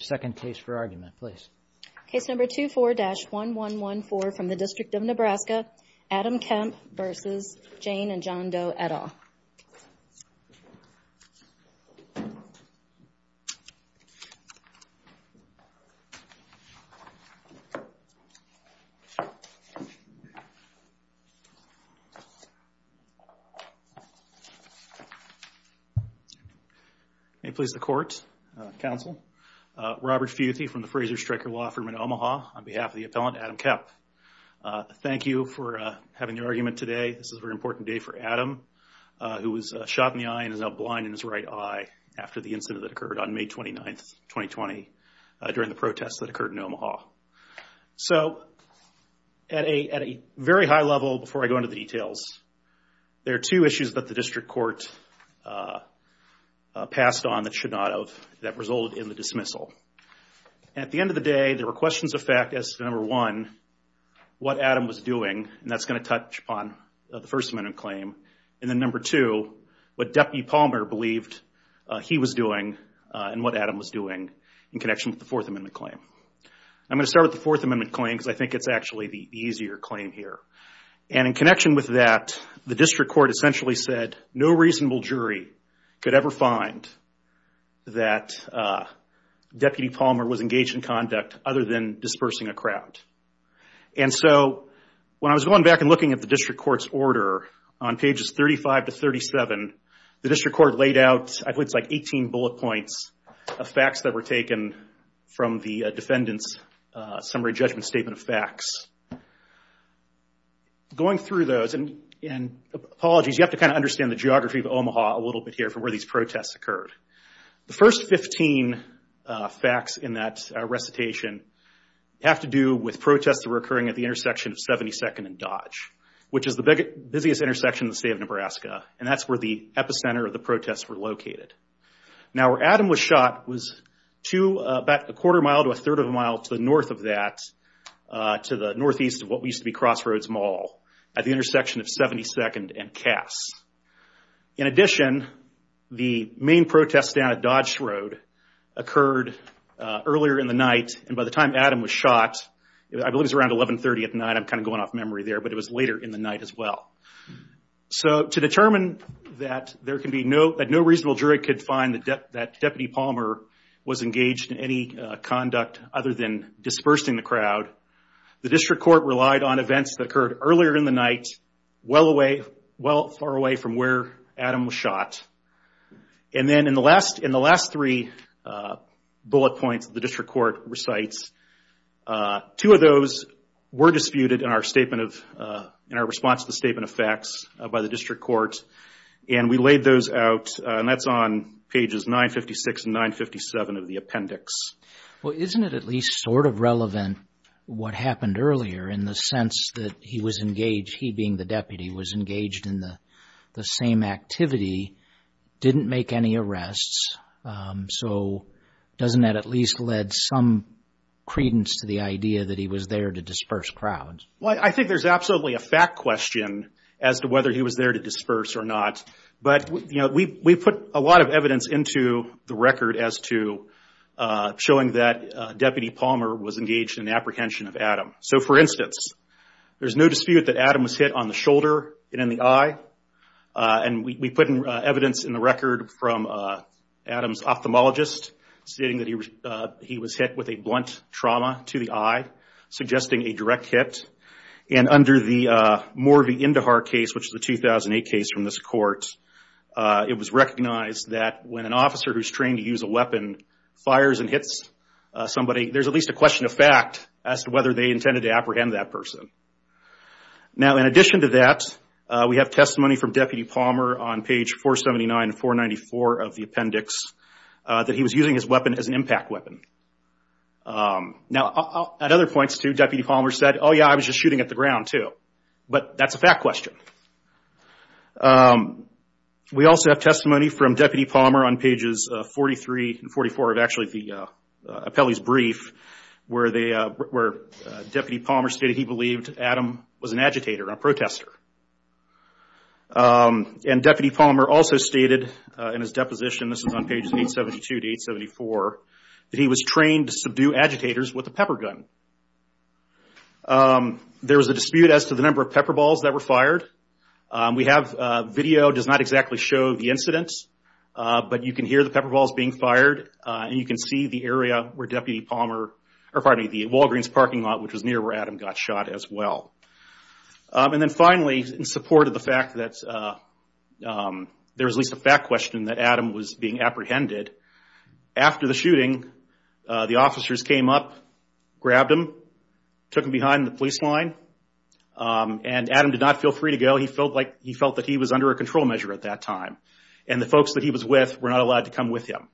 Second case for argument please. Case number 24-1114 from the District of Nebraska. Adam Kemp v. Jane and John Doe et al. May it please the court, counsel. Robert Feuthy from the Fraser Stryker Law Firm in Omaha on behalf of the appellant Adam Kemp. Thank you for having your argument today. This is a case that was shot in the eye and is now blind in his right eye after the incident that occurred on May 29, 2020 during the protests that occurred in Omaha. So at a very high level before I go into the details, there are two issues that the district court passed on that should not have, that resulted in the dismissal. At the end of the day there were questions of fact as to number one, what Adam was doing and that's going to touch upon the First Amendment claim. And then number two, what Deputy Palmer believed he was doing and what Adam was doing in connection with the Fourth Amendment claim. I'm going to start with the Fourth Amendment claim because I think it's actually the easier claim here. And in connection with that, the district court essentially said no reasonable jury could ever find that Deputy Palmer was engaged in conduct other than dispersing a crowd. And so when I was going back and looking at the district court's order on pages 35 to 37, the district court laid out, I believe it's like 18 bullet points of facts that were taken from the defendant's summary judgment statement of facts. Going through those, and apologies, you have to kind of understand the geography of Omaha a little bit here for where these protests occurred. The first 15 facts in that recitation have to do with protests that were occurring at the intersection of 72nd and Dodge, which is the busiest intersection in the state of Nebraska. And that's where the epicenter of the protests were located. Now where Adam was shot was about a quarter mile to a third of a mile to the north of that, to the northeast of what used to be Crossroads Mall, at the intersection of 72nd and Cass. In addition, the main protest down at Dodge Road occurred earlier in the night, and by the time Adam was shot, I believe it was around 1130 at night, I'm kind of going off memory there, but it was later in the night as well. So to determine that no reasonable jury could find that Deputy Palmer was engaged in any conduct other than dispersing the crowd, the district court relied on events that occurred earlier in the night, well away, well far away from where Adam was shot. And then in the last three bullet points the district court recites, two of those were disputed in our statement of, in our response to the statement of facts by the district court, and we laid those out, and that's on pages 956 and 957 of the appendix. Well, isn't it at least sort of relevant what happened earlier in the sense that he was engaged, he being the deputy, was engaged in the same activity, didn't make any arrests, so doesn't that at least lead some credence to the idea that he was there to disperse crowds? Well, I think there's absolutely a fact question as to whether he was there to disperse or not, but we put a lot of evidence into the record as to showing that Deputy Palmer was engaged in the apprehension of Adam. So for instance, there's no dispute that Adam was hit on the shoulder and in the eye, and we put evidence in the record from Adam's ophthalmologist stating that he was hit with a blunt trauma to the eye, suggesting a direct hit, and under the Morvey Indahar case, which is a 2008 case from this court, it was recognized that when an officer who's trained to use a weapon fires and hits somebody, there's at least a question of fact as to whether they intended to apprehend that person. Now, in addition to that, we have testimony from Deputy Palmer on page 479 and 494 of the appendix that he was using his weapon as an impact weapon. Now, at other points too, Deputy Palmer said, oh yeah, I was just shooting at the gun too, but that's a fact question. We also have testimony from Deputy Palmer on pages 43 and 44 of actually the appellee's brief where Deputy Palmer stated he believed Adam was an agitator, a protester. And Deputy Palmer also stated in his deposition, this is on pages 872 to 874, that he was trained to subdue agitators with a pepper gun. There was a dispute as to the number of pepper balls that were fired. We have video, it does not exactly show the incidents, but you can hear the pepper balls being fired, and you can see the area where Deputy Palmer, or pardon me, the Walgreens parking lot, which was near where Adam got shot as well. And then finally, in support of the fact that there was at least a fact question that Adam was being apprehended, after the shooting, the officers came up, grabbed him, took him behind the police line, and Adam did not feel free to go. He felt that he was under a control measure at that time, and the folks that he was with were not allowed to come with him.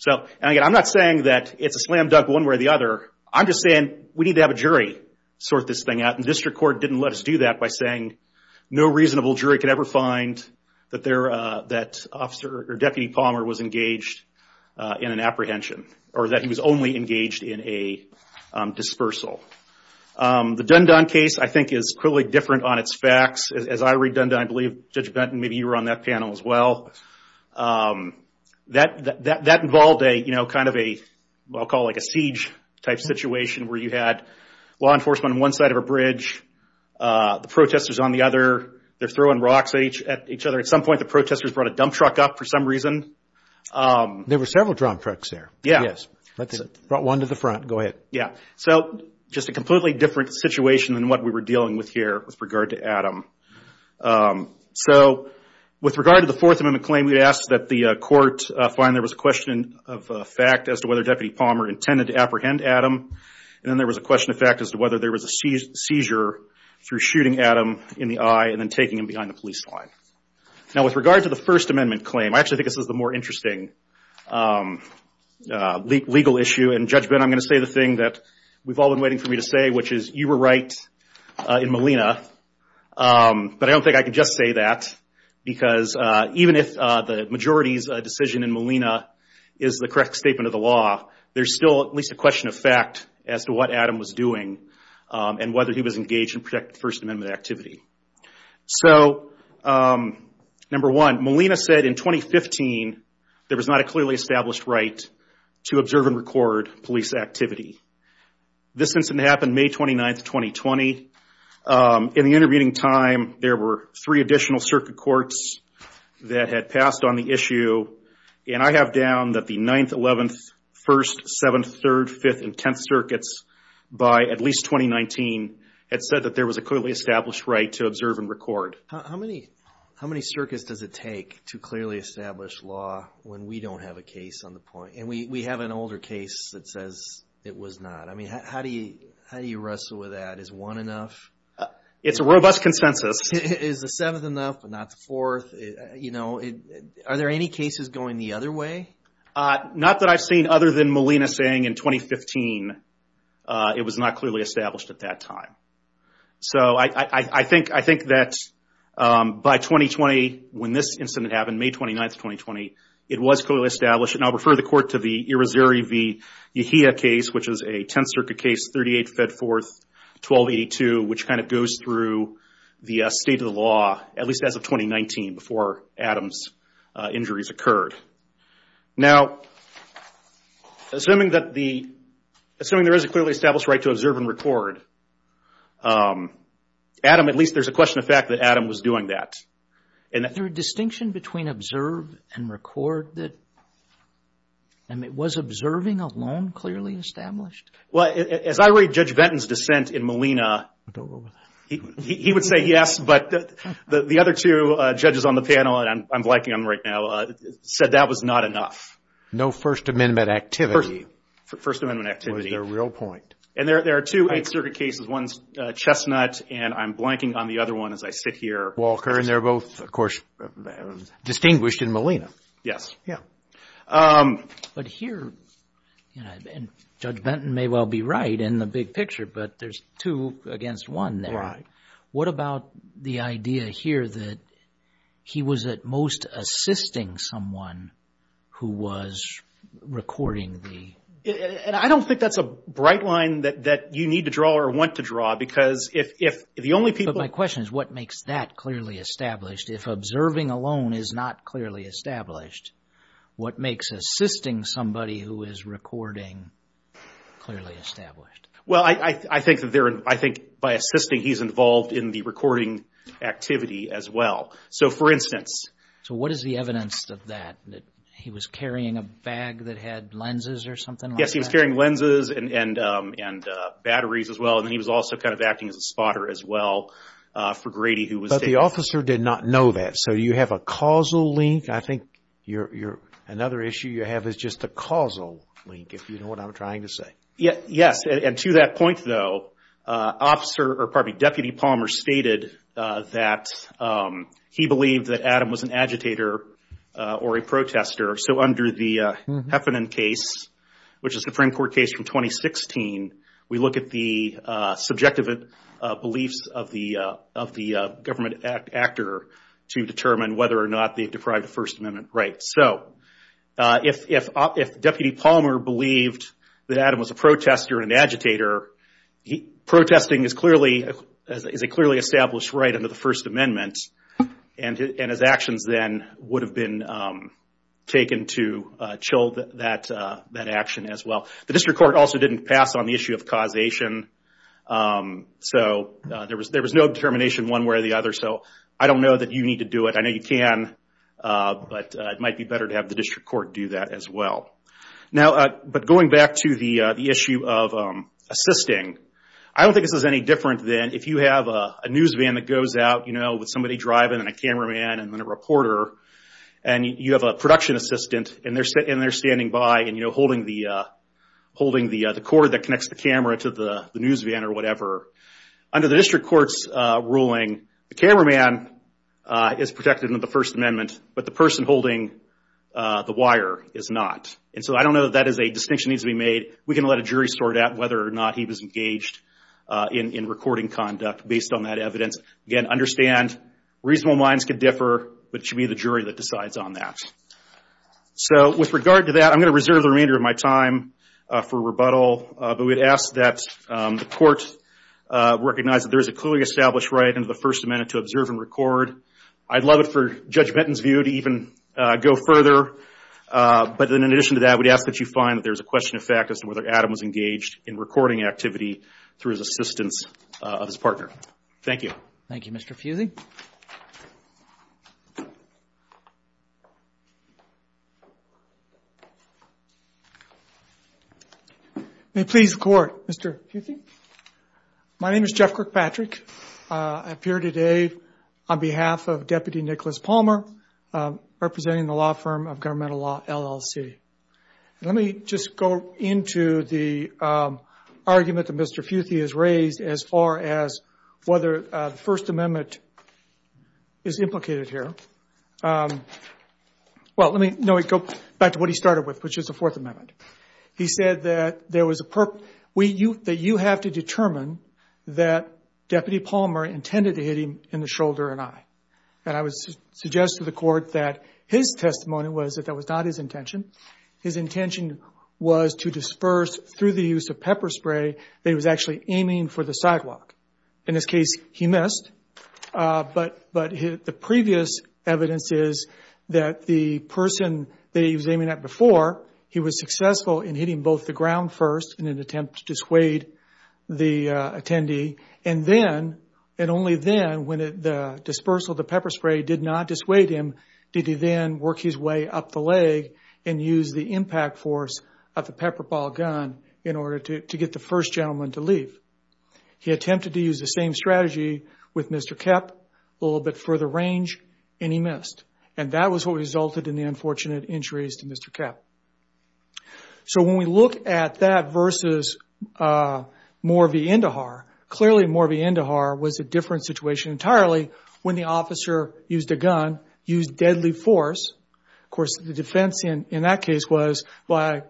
So, I'm not saying that it's a slam dunk one way or the other. I'm just saying we need to have a jury sort this thing out, and the district court didn't let us do that by saying no reasonable jury could ever find that Deputy Palmer was engaged in an apprehension, or that he was only engaged in a dispersal. The Dundon case, I think, is clearly different on its facts. As I read Dundon, I believe Judge Benton, maybe you were on that panel as well, that involved a kind of a, I'll call it a siege type situation, where you had law enforcement on one side of a bridge, the protesters on the other. They're throwing rocks at each other. At some point, the protesters brought a dump truck up for some reason. There were several dump trucks there. Yeah. Yes. Brought one to the front. Go ahead. Yeah. So, just a completely different situation than what we were dealing with here with regard to Adam. So, with regard to the Fourth Amendment claim, we asked that the court find there was a question of fact as to whether Deputy Palmer intended to apprehend Adam, and then there was a question of fact as to whether there was a seizure through shooting Adam in the eye and then taking him behind the police line. Now, with regard to the First Amendment claim, I actually think this is the more interesting legal issue. And Judge Benton, I'm going to say the thing that we've all been waiting for me to say, which is, you were right in Molina. But I don't think I can just say that, because even if the majority's decision in Molina is the correct statement of the law, there's still at least a question of fact as to what Adam was doing and whether he was engaged in First Amendment activity. So, number one, Molina said in 2015, there was not a clearly established right to observe and record police activity. This incident happened May 29th, 2020. In the intervening time, there were three additional circuit courts that had passed on the issue. And I have down that the 9th, 11th, 1st, 7th, 3rd, 5th, and 10th circuits by at least 2019 had said that there was a clearly established right to observe and record. How many circuits does it take to clearly establish law when we don't have a case on the point? And we have an older case that says it was not. I mean, how do you wrestle with that? Is one enough? It's a robust consensus. Is the 7th enough, but not the 4th? You know, are there any cases going the other way? Not that I've seen other than Molina saying in 2015, it was not clearly established at that time. So, I think that by 2020, when this incident happened, May 29th, 2020, it was clearly established. And I'll refer the court to the Irizarry v. Yahia case, which is a 10th circuit case, 38 Fedforth, 1282, which kind of goes through the state of the law, at least as of 2019, before Adam's injuries occurred. Now, assuming that the, assuming there is a clearly established right to observe and record, Adam, at least there's a question of fact that Adam was doing that. Is there a distinction between observe and record that, I mean, was observing alone clearly established? Well, as I read Judge Benton's dissent in Molina, he would say yes, but the other two judges on the panel, and I'm blanking on them right now, said that was not enough. No First Amendment activity. First Amendment activity. Was their real point. And there are two 8th circuit cases, one's Chestnut, and I'm blanking on the other one as I sit here. Walker, and they're both, of course, distinguished in Molina. Yes. Yeah. But here, and Judge Benton may well be right in the big picture, but there's two against one there. What about the idea here that he was at most assisting someone who was recording the... And I don't think that's a bright line that you need to draw or want to draw, because if the only people... But my question is, what makes that clearly established? If observing alone is not clearly established, what makes assisting somebody who is recording clearly established? Well, I think by assisting, he's involved in the recording activity as well. So, for instance... So, what is the evidence of that, that he was carrying a bag that had lenses or something like that? Yes, he was carrying lenses and batteries as well, and he was also kind of acting as a spotter as well for Grady who was... The officer did not know that. So, you have a causal link. I think another issue you have is just a causal link, if you know what I'm trying to say. Yes. And to that point, though, Deputy Palmer stated that he believed that Adam was an agitator or a protester. So, under the Heffernan case, which is the Supreme Court case from 2016, we look at the subjective beliefs of the government actor to determine whether or not they deprived the First Amendment rights. So, if Deputy Palmer believed that Adam was a protester and agitator, protesting is a clearly established right under the First Amendment, and his actions then would have been taken to chill that action as well. The District Court also didn't pass on the issue of causation. So, there was no determination one way or the other. So, I don't know that you need to do it. I know you can, but it might be better to have the District Court do that as well. Now, but going back to the issue of assisting, I don't think this is any different than if you have a news van that goes out, you know, with somebody driving and a cameraman and then a reporter, and you have a production assistant and they're standing by and, you know, holding the cord that connects the camera to the news van or whatever. Under the District Court's ruling, the cameraman is protected under the First Amendment, but the person holding the wire is not. And so, I don't know that that is a distinction that needs to be made. We can let a jury sort out whether or not he was engaged in recording conduct based on that evidence. Again, understand, reasonable minds can differ, but it should be the jury that decides on that. So, with regard to that, I'm going to reserve the remainder of my time for rebuttal, but we'd ask that the Court recognize that there is a clearly established right under the First Amendment to observe and record. I'd love it for Judge Benton's view to even go further, but in addition to that, we'd ask that you find that there's a question of fact as to whether Adam was engaged in recording activity through his assistance of his partner. Thank you. Thank you, Mr. Futhy. May it please the Court, Mr. Futhy? My name is Jeff Kirkpatrick. I appear today on behalf of Deputy Nicholas Palmer, representing the law firm of Governmental Law, LLC. Let me just go into the argument that Mr. Futhy has raised as far as whether the First Amendment is implicated here. Well, let me go back to what he started with, which is the Fourth Amendment. He said that you have to determine that Deputy Palmer intended to hit him in the shoulder and eye. And I would suggest to the Court that his testimony was that that was not his intention. His intention was to disperse through the use of pepper spray that he was actually aiming for the sidewalk. In this case, he missed, but the previous evidence is that the person that he was aiming at before, he was successful in hitting both the ground first in an attempt to dissuade the attendee. And then, and only then, when the dispersal of the pepper spray did not dissuade him, did he then work his way up the leg and use the impact force of the pepper ball gun in order to get the first gentleman to leave. He attempted to use the same strategy with Mr. Koepp, a little bit further range, and he missed. And that was what resulted in the unfortunate injuries to Mr. Koepp. So when we look at that versus Moore v. Indahar, clearly, Moore v. Indahar was a different situation entirely when the officer used a gun, used deadly force. Of course, the defense in that case was, well,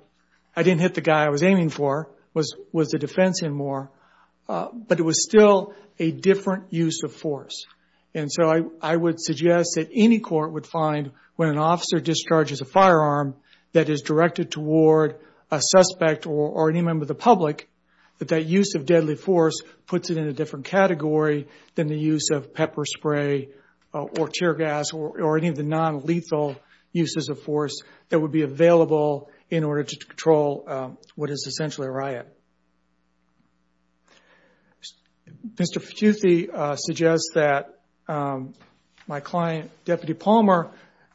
I didn't hit the guy I was aiming for, was the defense in Moore. But it was still a different use of force. And so I would suggest that any court would find when an officer discharges a firearm that is directed toward a suspect or any member of the public, that that use of deadly force puts it in a different category than the use of pepper spray or tear gas or any of the non-lethal uses of force that would be available in order to control what is essentially a riot. Mr. Futhe suggests that my client, Deputy Palmer,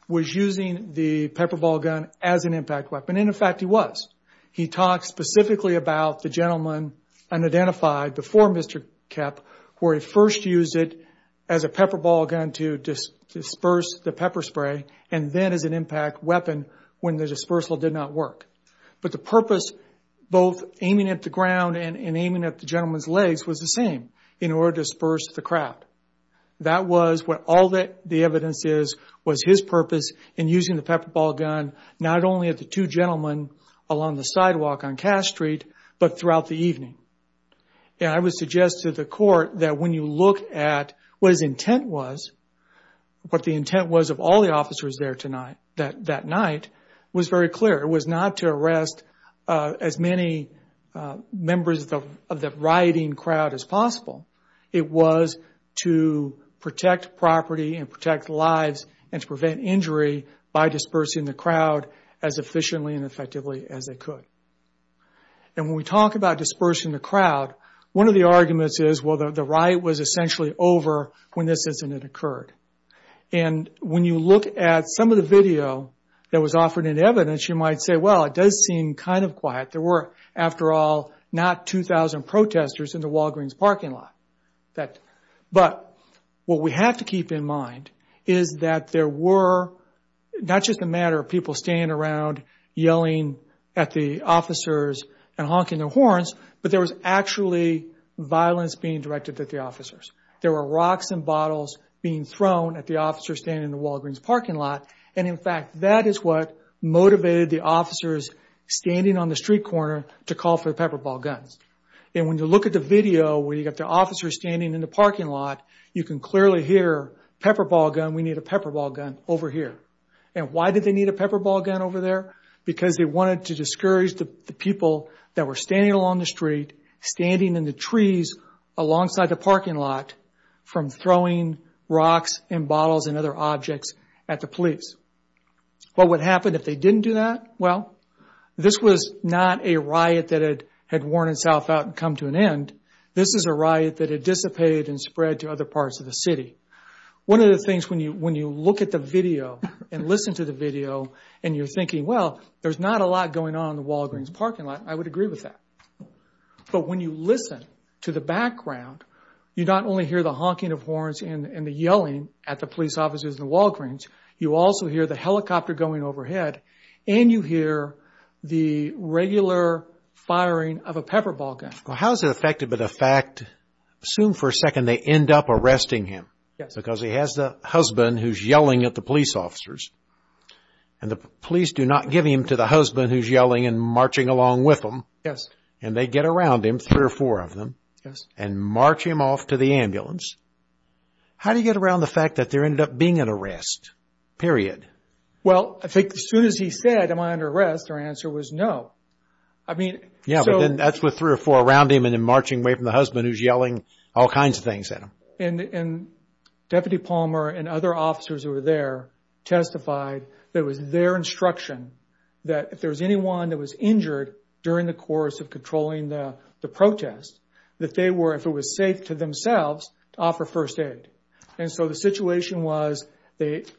was using the pepper ball gun as an impact weapon, and in fact, he was. He talked specifically about the gentleman unidentified before Mr. Koepp, where he first used it as a pepper ball gun to disperse the pepper spray, and then as an impact weapon when the dispersal did not work. But the purpose, both aiming at the ground and aiming at the gentleman's legs, was the same, in order to disperse the craft. That was what all the evidence is, was his purpose in using the pepper ball gun, not only at the two gentlemen along the sidewalk on Cass Street, but throughout the evening. And I would suggest to the court that when you look at what his intent was, what the intent was of all the officers there tonight, that night, was very clear. It was not to arrest as many members of the rioting crowd as possible. It was to protect property and protect lives and to prevent injury by dispersing the crowd as efficiently and effectively as they could. And when we talk about dispersing the crowd, one of the arguments is, well, the riot was essentially over when this incident occurred. And when you look at some of the video that was offered in evidence, you might say, well, it does seem kind of quiet. There were, after all, not 2,000 protesters in the Walgreens parking lot. But what we have to keep in mind is that there were not just the matter of people standing around yelling at the officers and honking their horns, but there was actually violence being directed at the officers. There were rocks and bottles being thrown at the officers standing in the Walgreens parking lot. And in fact, that is what motivated the officers standing on the street corner to call for the pepper ball guns. And when you look at the video where you got the officers standing in the parking lot, you can clearly hear, pepper ball gun, we need a pepper ball gun over here. And why did they need a pepper ball gun over there? Because they wanted to discourage the people that were standing along the street, standing in the trees alongside the parking lot, from throwing rocks and bottles and other objects at the police. What would happen if they didn't do that? Well, this was not a riot that had worn itself out and come to an end. This is a riot that had dissipated and spread to other parts of the city. One of the things when you look at the video and listen to the video and you're thinking, well, there's not a lot going on in the Walgreens parking lot, I would agree with that. But when you listen to the background, you not only hear the honking of horns and the yelling at the police officers in the Walgreens, you also hear the helicopter going overhead, and you hear the regular firing of a pepper ball gun. Well, how is it affected by the fact, assume for a second they end up arresting him, because he has a husband who's yelling at the police officers, and the police do not give him to the husband who's yelling and marching along with him, and they get around him, three or four of them, and march him off to the ambulance. How do you get around the fact that there ended up being an arrest, period? Well, I think as soon as he said, am I under arrest, their answer was no. Yeah, but then that's with three or four around him and then marching away from the husband who's yelling all kinds of things at him. And Deputy Palmer and other officers who were there testified that it was their instruction that if there was anyone that was injured during the course of controlling the protest, that they were, if it was safe to themselves, to offer first aid. And so the situation was that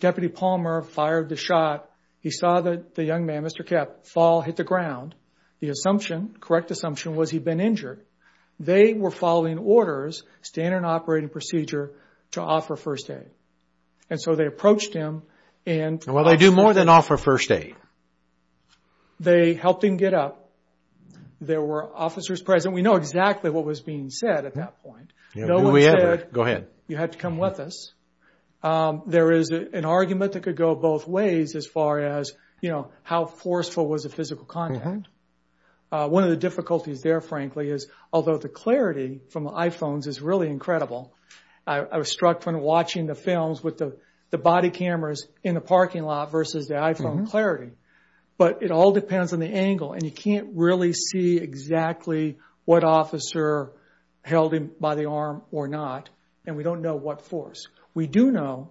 Deputy Palmer fired the shot. He saw the young man, Mr. Kapp, fall, hit the ground. The assumption, correct assumption, was he'd been injured. They were following orders, standard operating procedure, to offer first aid. And so they approached him and- Well, they do more than offer first aid. They helped him get up. There were officers present. We know exactly what was being said at that point. No one said- Go ahead. You had to come with us. There is an argument that could go both ways as far as, you know, how forceful was the physical contact. One of the difficulties there, frankly, is although the clarity from the iPhones is really incredible. I was struck when watching the films with the body cameras in the parking lot versus the iPhone clarity. But it all depends on the angle. And you can't really see exactly what officer held him by the arm or not. And we don't know what force. We do know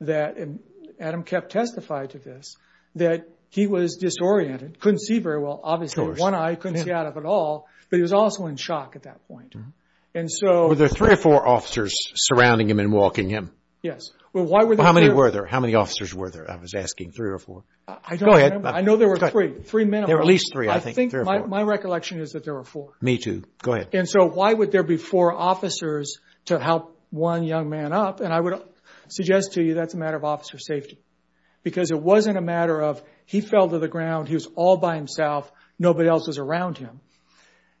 that, and Adam kept testifying to this, that he was disoriented. Couldn't see very well. Obviously, with one eye, he couldn't see out of it at all. But he was also in shock at that point. And so- Were there three or four officers surrounding him and walking him? Yes. Well, why were there- How many were there? How many officers were there? I was asking. Three or four? I don't remember. I know there were three, three minimum. There were at least three, I think. I think my recollection is that there were four. Me too. Go ahead. And so why would there be four officers to help one young man up? And I would suggest to you that's a matter of officer safety. Because it wasn't a matter of he fell to the ground. He was all by himself. Nobody else was around him.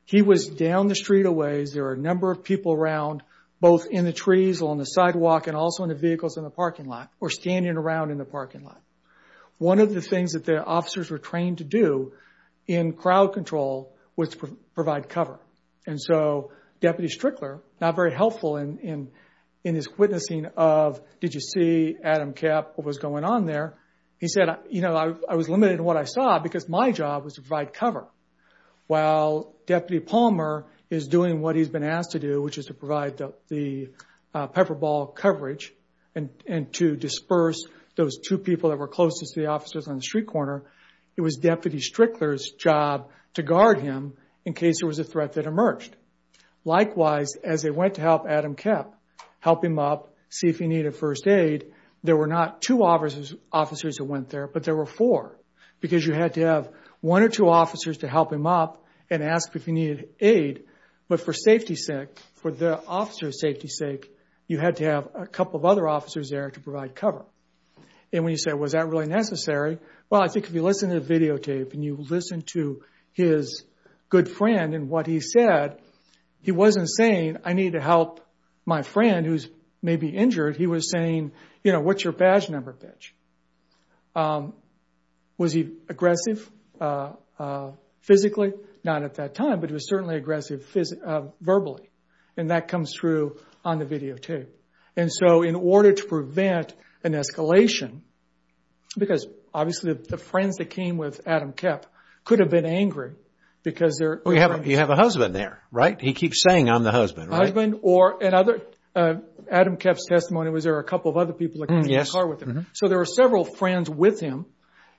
He was down the street a ways. There were a number of people around, both in the trees, along the sidewalk, and also in the vehicles in the parking lot, or standing around in the parking lot. One of the things that the officers were trained to do in crowd control was to provide cover. And so Deputy Strickler, not very helpful in his witnessing of, did you see Adam Kapp, what was going on there? He said, I was limited in what I saw because my job was to provide cover. While Deputy Palmer is doing what he's been asked to do, which is to provide the pepper ball coverage, and to disperse those two people that were closest to the officers on the street corner, it was Deputy Strickler's job to guard him in case there was a threat that emerged. Likewise, as they went to help Adam Kapp, help him up, see if he needed first aid, there were not two officers who went there, but there were four. Because you had to have one or two officers to help him up, and ask if he needed aid. But for safety's sake, for the officer's safety's sake, you had to have a couple of other officers there to provide cover. And when you say, was that really necessary? Well, I think if you listen to the videotape, and you listen to his good friend and what he said, he wasn't saying, I need to help my friend who's maybe injured. He was saying, what's your badge number, bitch? Was he aggressive physically? Not at that time, but he was certainly aggressive verbally. And that comes through on the videotape. And so in order to prevent an escalation, because obviously the friends that came with Adam Kapp could have been angry, because they're... Well, you have a husband there, right? He keeps saying, I'm the husband, right? Husband, or in other... Adam Kapp's testimony was there were a couple of other people that came in the car with him. So there were several friends with him,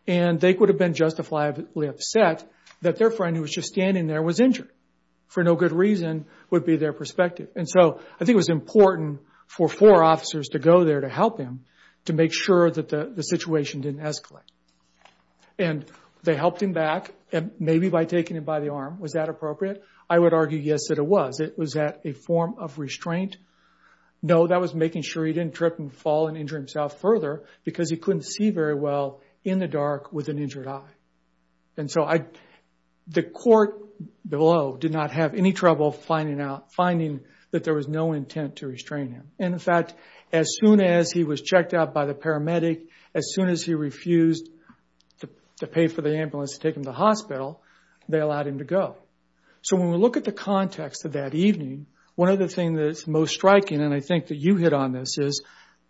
and they could have been justifiably upset that their friend who was just standing there was injured, for no good reason, would be their perspective. And so I think it was important for four officers to go there to help him, to make sure that the situation didn't escalate. And they helped him back, maybe by taking him by the arm. Was that appropriate? I would argue, yes, that it was. It was a form of restraint. No, that was making sure he didn't trip and fall and injure himself further, because he couldn't see very well in the dark with an injured eye. And so the court below did not have any trouble finding out, finding that there was no intent to restrain him. And in fact, as soon as he was checked out by the paramedic, as soon as he refused to pay for the ambulance to take him to the hospital, they allowed him to go. So when we look at the context of that evening, one of the things that is most striking, and I think that you hit on this, is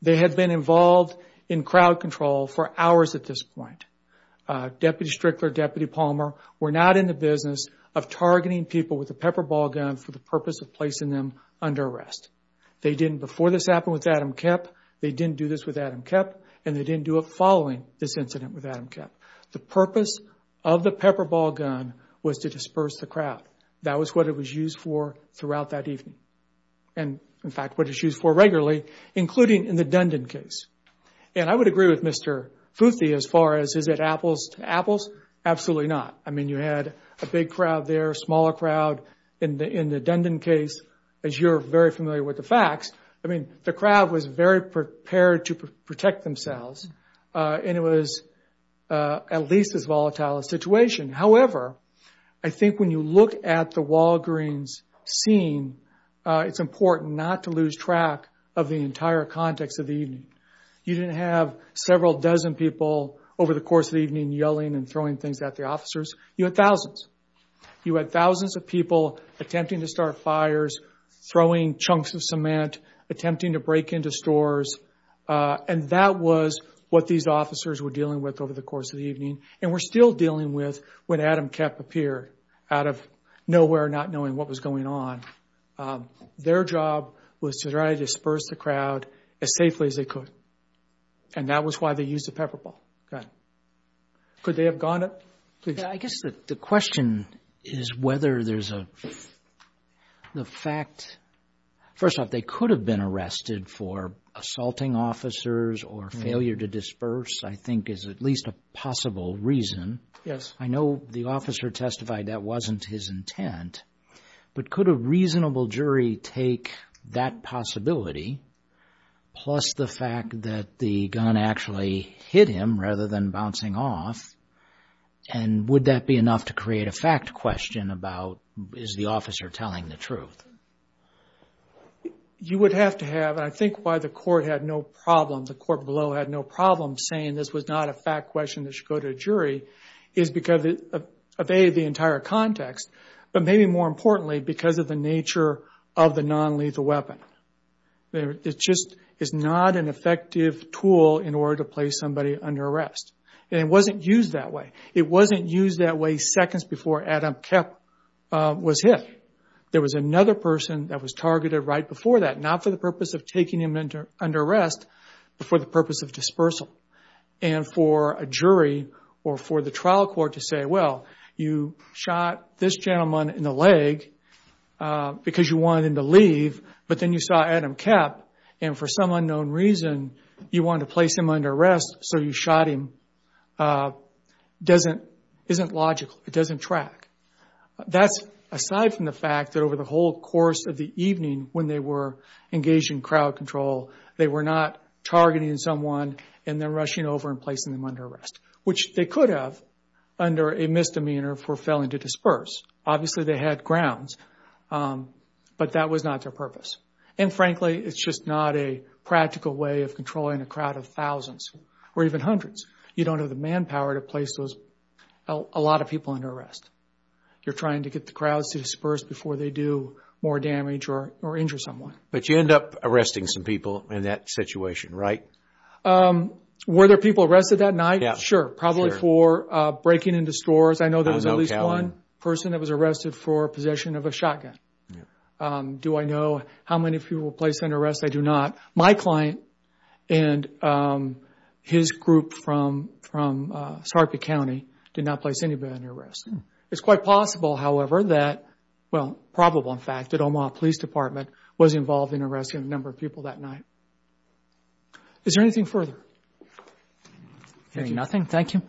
they had been involved in crowd control for hours at this point. Deputy Strickler, Deputy Palmer were not in the business of targeting people with a pepper ball gun for the purpose of placing them under arrest. They didn't, before this happened with Adam Koepp, they didn't do this with Adam Koepp, and they didn't do it following this incident with Adam Koepp. The purpose of the pepper ball gun was to disperse the crowd. That was what it was used for throughout that evening. And in fact, what it's used for regularly, including in the Dundon case. And I would agree with Mr. Futhi as far as, is it apples to apples? Absolutely not. I mean, you had a big crowd there, a smaller crowd. In the Dundon case, as you're very familiar with the facts, I mean, the crowd was very prepared to protect themselves. And it was at least as volatile a situation. However, I think when you look at the Walgreens scene, it's important not to lose track of the entire context of the evening. You didn't have several dozen people over the course of the evening yelling and throwing things at the officers. You had thousands. You had thousands of people attempting to start fires, throwing chunks of cement, attempting to break into stores. And that was what these officers were dealing with over the course of the evening, and were still dealing with when Adam Koepp appeared out of nowhere, not knowing what was going on. Their job was to try to disperse the crowd as safely as they could. And that was why they used the pepper ball gun. Could they have gone? I guess the question is whether there's a... The fact... First off, they could have been arrested for assaulting officers or failure to disperse, I think, is at least a possible reason. Yes. I know the officer testified that wasn't his intent, but could a reasonable jury take that possibility, plus the fact that the gun actually hit him rather than bouncing off? And would that be enough to create a fact question about, is the officer telling the truth? You would have to have, and I think why the court had no problem, the court below had no problem saying this was not a fact question that should go to a jury, is because it evaded the entire context, but maybe more importantly, because of the nature of the non-lethal weapon. It just is not an effective tool in order to place somebody under arrest. And it wasn't used that way. It wasn't used that way seconds before Adam Koepp was hit. There was another person that was targeted right before that, not for the purpose of taking him under arrest, but for the purpose of dispersal. And for a jury or for the trial court to say, well, you shot this gentleman in the leg because you wanted him to leave, but then you saw Adam Koepp, and for some unknown reason, you wanted to place him under arrest, so you shot him, doesn't, isn't logical. It doesn't track. That's aside from the fact that over the whole course of the evening, when they were engaged in crowd control, they were not targeting someone and then rushing over and placing them under arrest, which they could have under a misdemeanor for failing to disperse. Obviously, they had grounds, but that was not their purpose. And frankly, it's just not a practical way of controlling a crowd of thousands or even hundreds. You don't have the manpower to place a lot of people under arrest. You're trying to get the crowds to disperse before they do more damage or injure someone. But you end up arresting some people in that situation, right? Were there people arrested that night? Yeah. Sure. Probably for breaking into stores. I know there was at least one person that was arrested for possession of a shotgun. Do I know how many people were placed under arrest? I do not. My client and his group from Sarpy County did not place anybody under arrest. It's quite possible, however, that, well, probable, in fact, that Omaha Police Department was involved in arresting a number of people that night. Is there anything further? Hearing nothing, thank you.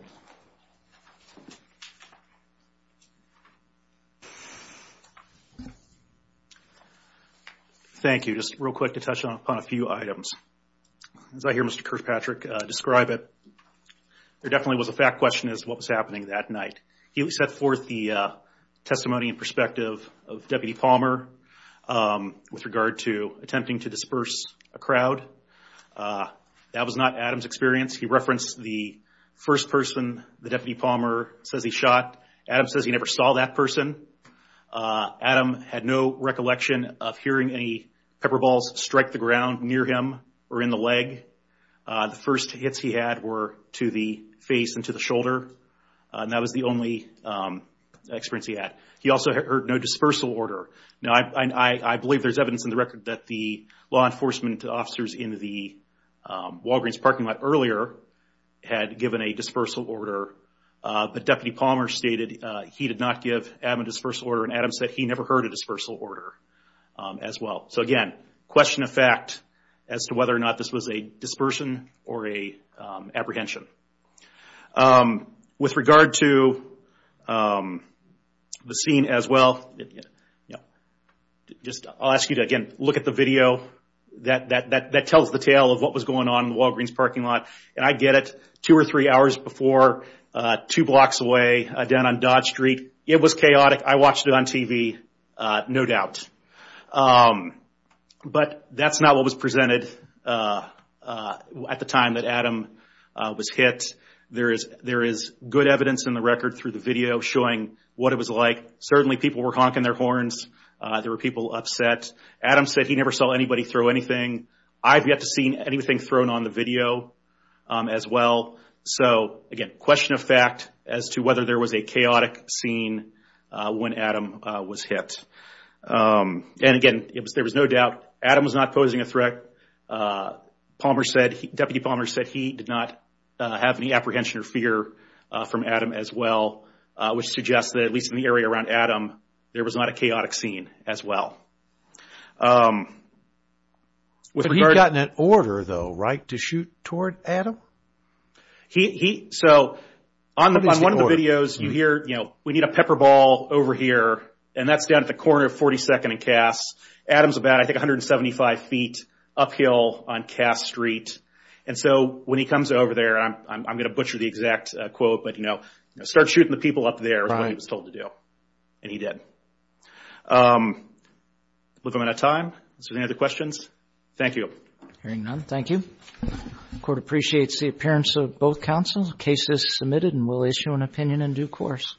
Thank you. Just real quick to touch upon a few items. As I hear Mr. Kirkpatrick describe it, there definitely was a fact question as to what was happening that night. He set forth the testimony and perspective of Deputy Palmer with regard to attempting to disperse a crowd. That was not Adam's experience. He referenced the first person the Deputy Palmer says he shot. Adam says he never saw that person. Adam had no recollection of hearing any pepper balls strike the ground near him or in the leg. The first hits he had were to the face and to the shoulder. That was the only experience he had. He also heard no dispersal order. Now, I believe there's evidence in the record that the law enforcement officers in the Walgreens parking lot earlier had given a dispersal order. But Deputy Palmer stated he did not give Adam a dispersal order. And Adam said he never heard a dispersal order as well. So again, question of fact as to whether or not this was a dispersion or a apprehension. With regard to the scene as well, I'll ask you to, again, look at the video that tells the tale of what was going on in the Walgreens parking lot. And I get it. Two or three hours before, two blocks away, down on Dodge Street, it was chaotic. I watched it on TV, no doubt. But that's not what was presented at the time that Adam was hit. There is good evidence in the record through the video showing what it was like. Certainly, people were honking their horns. There were people upset. Adam said he never saw anybody throw anything. I've yet to see anything thrown on the video as well. So again, question of fact as to whether there was a chaotic scene when Adam was hit. And again, there was no doubt Adam was not posing a threat. Deputy Palmer said he did not have any apprehension or fear from Adam as well, which suggests that, at least in the area around Adam, there was not a chaotic scene as well. But he got an order, though, right, to shoot toward Adam? So on one of the videos, you hear, we need a pepper ball over here. And that's down at the corner of 42nd and Cass. Adam's about, I think, 175 feet uphill on Cass Street. And so when he comes over there, I'm going to butcher the exact quote, but start shooting the people up there is what he was told to do. And he did. We're running out of time. Is there any other questions? Thank you. Hearing none, thank you. Court appreciates the appearance of both counsels. Case is submitted, and we'll issue an opinion in due course.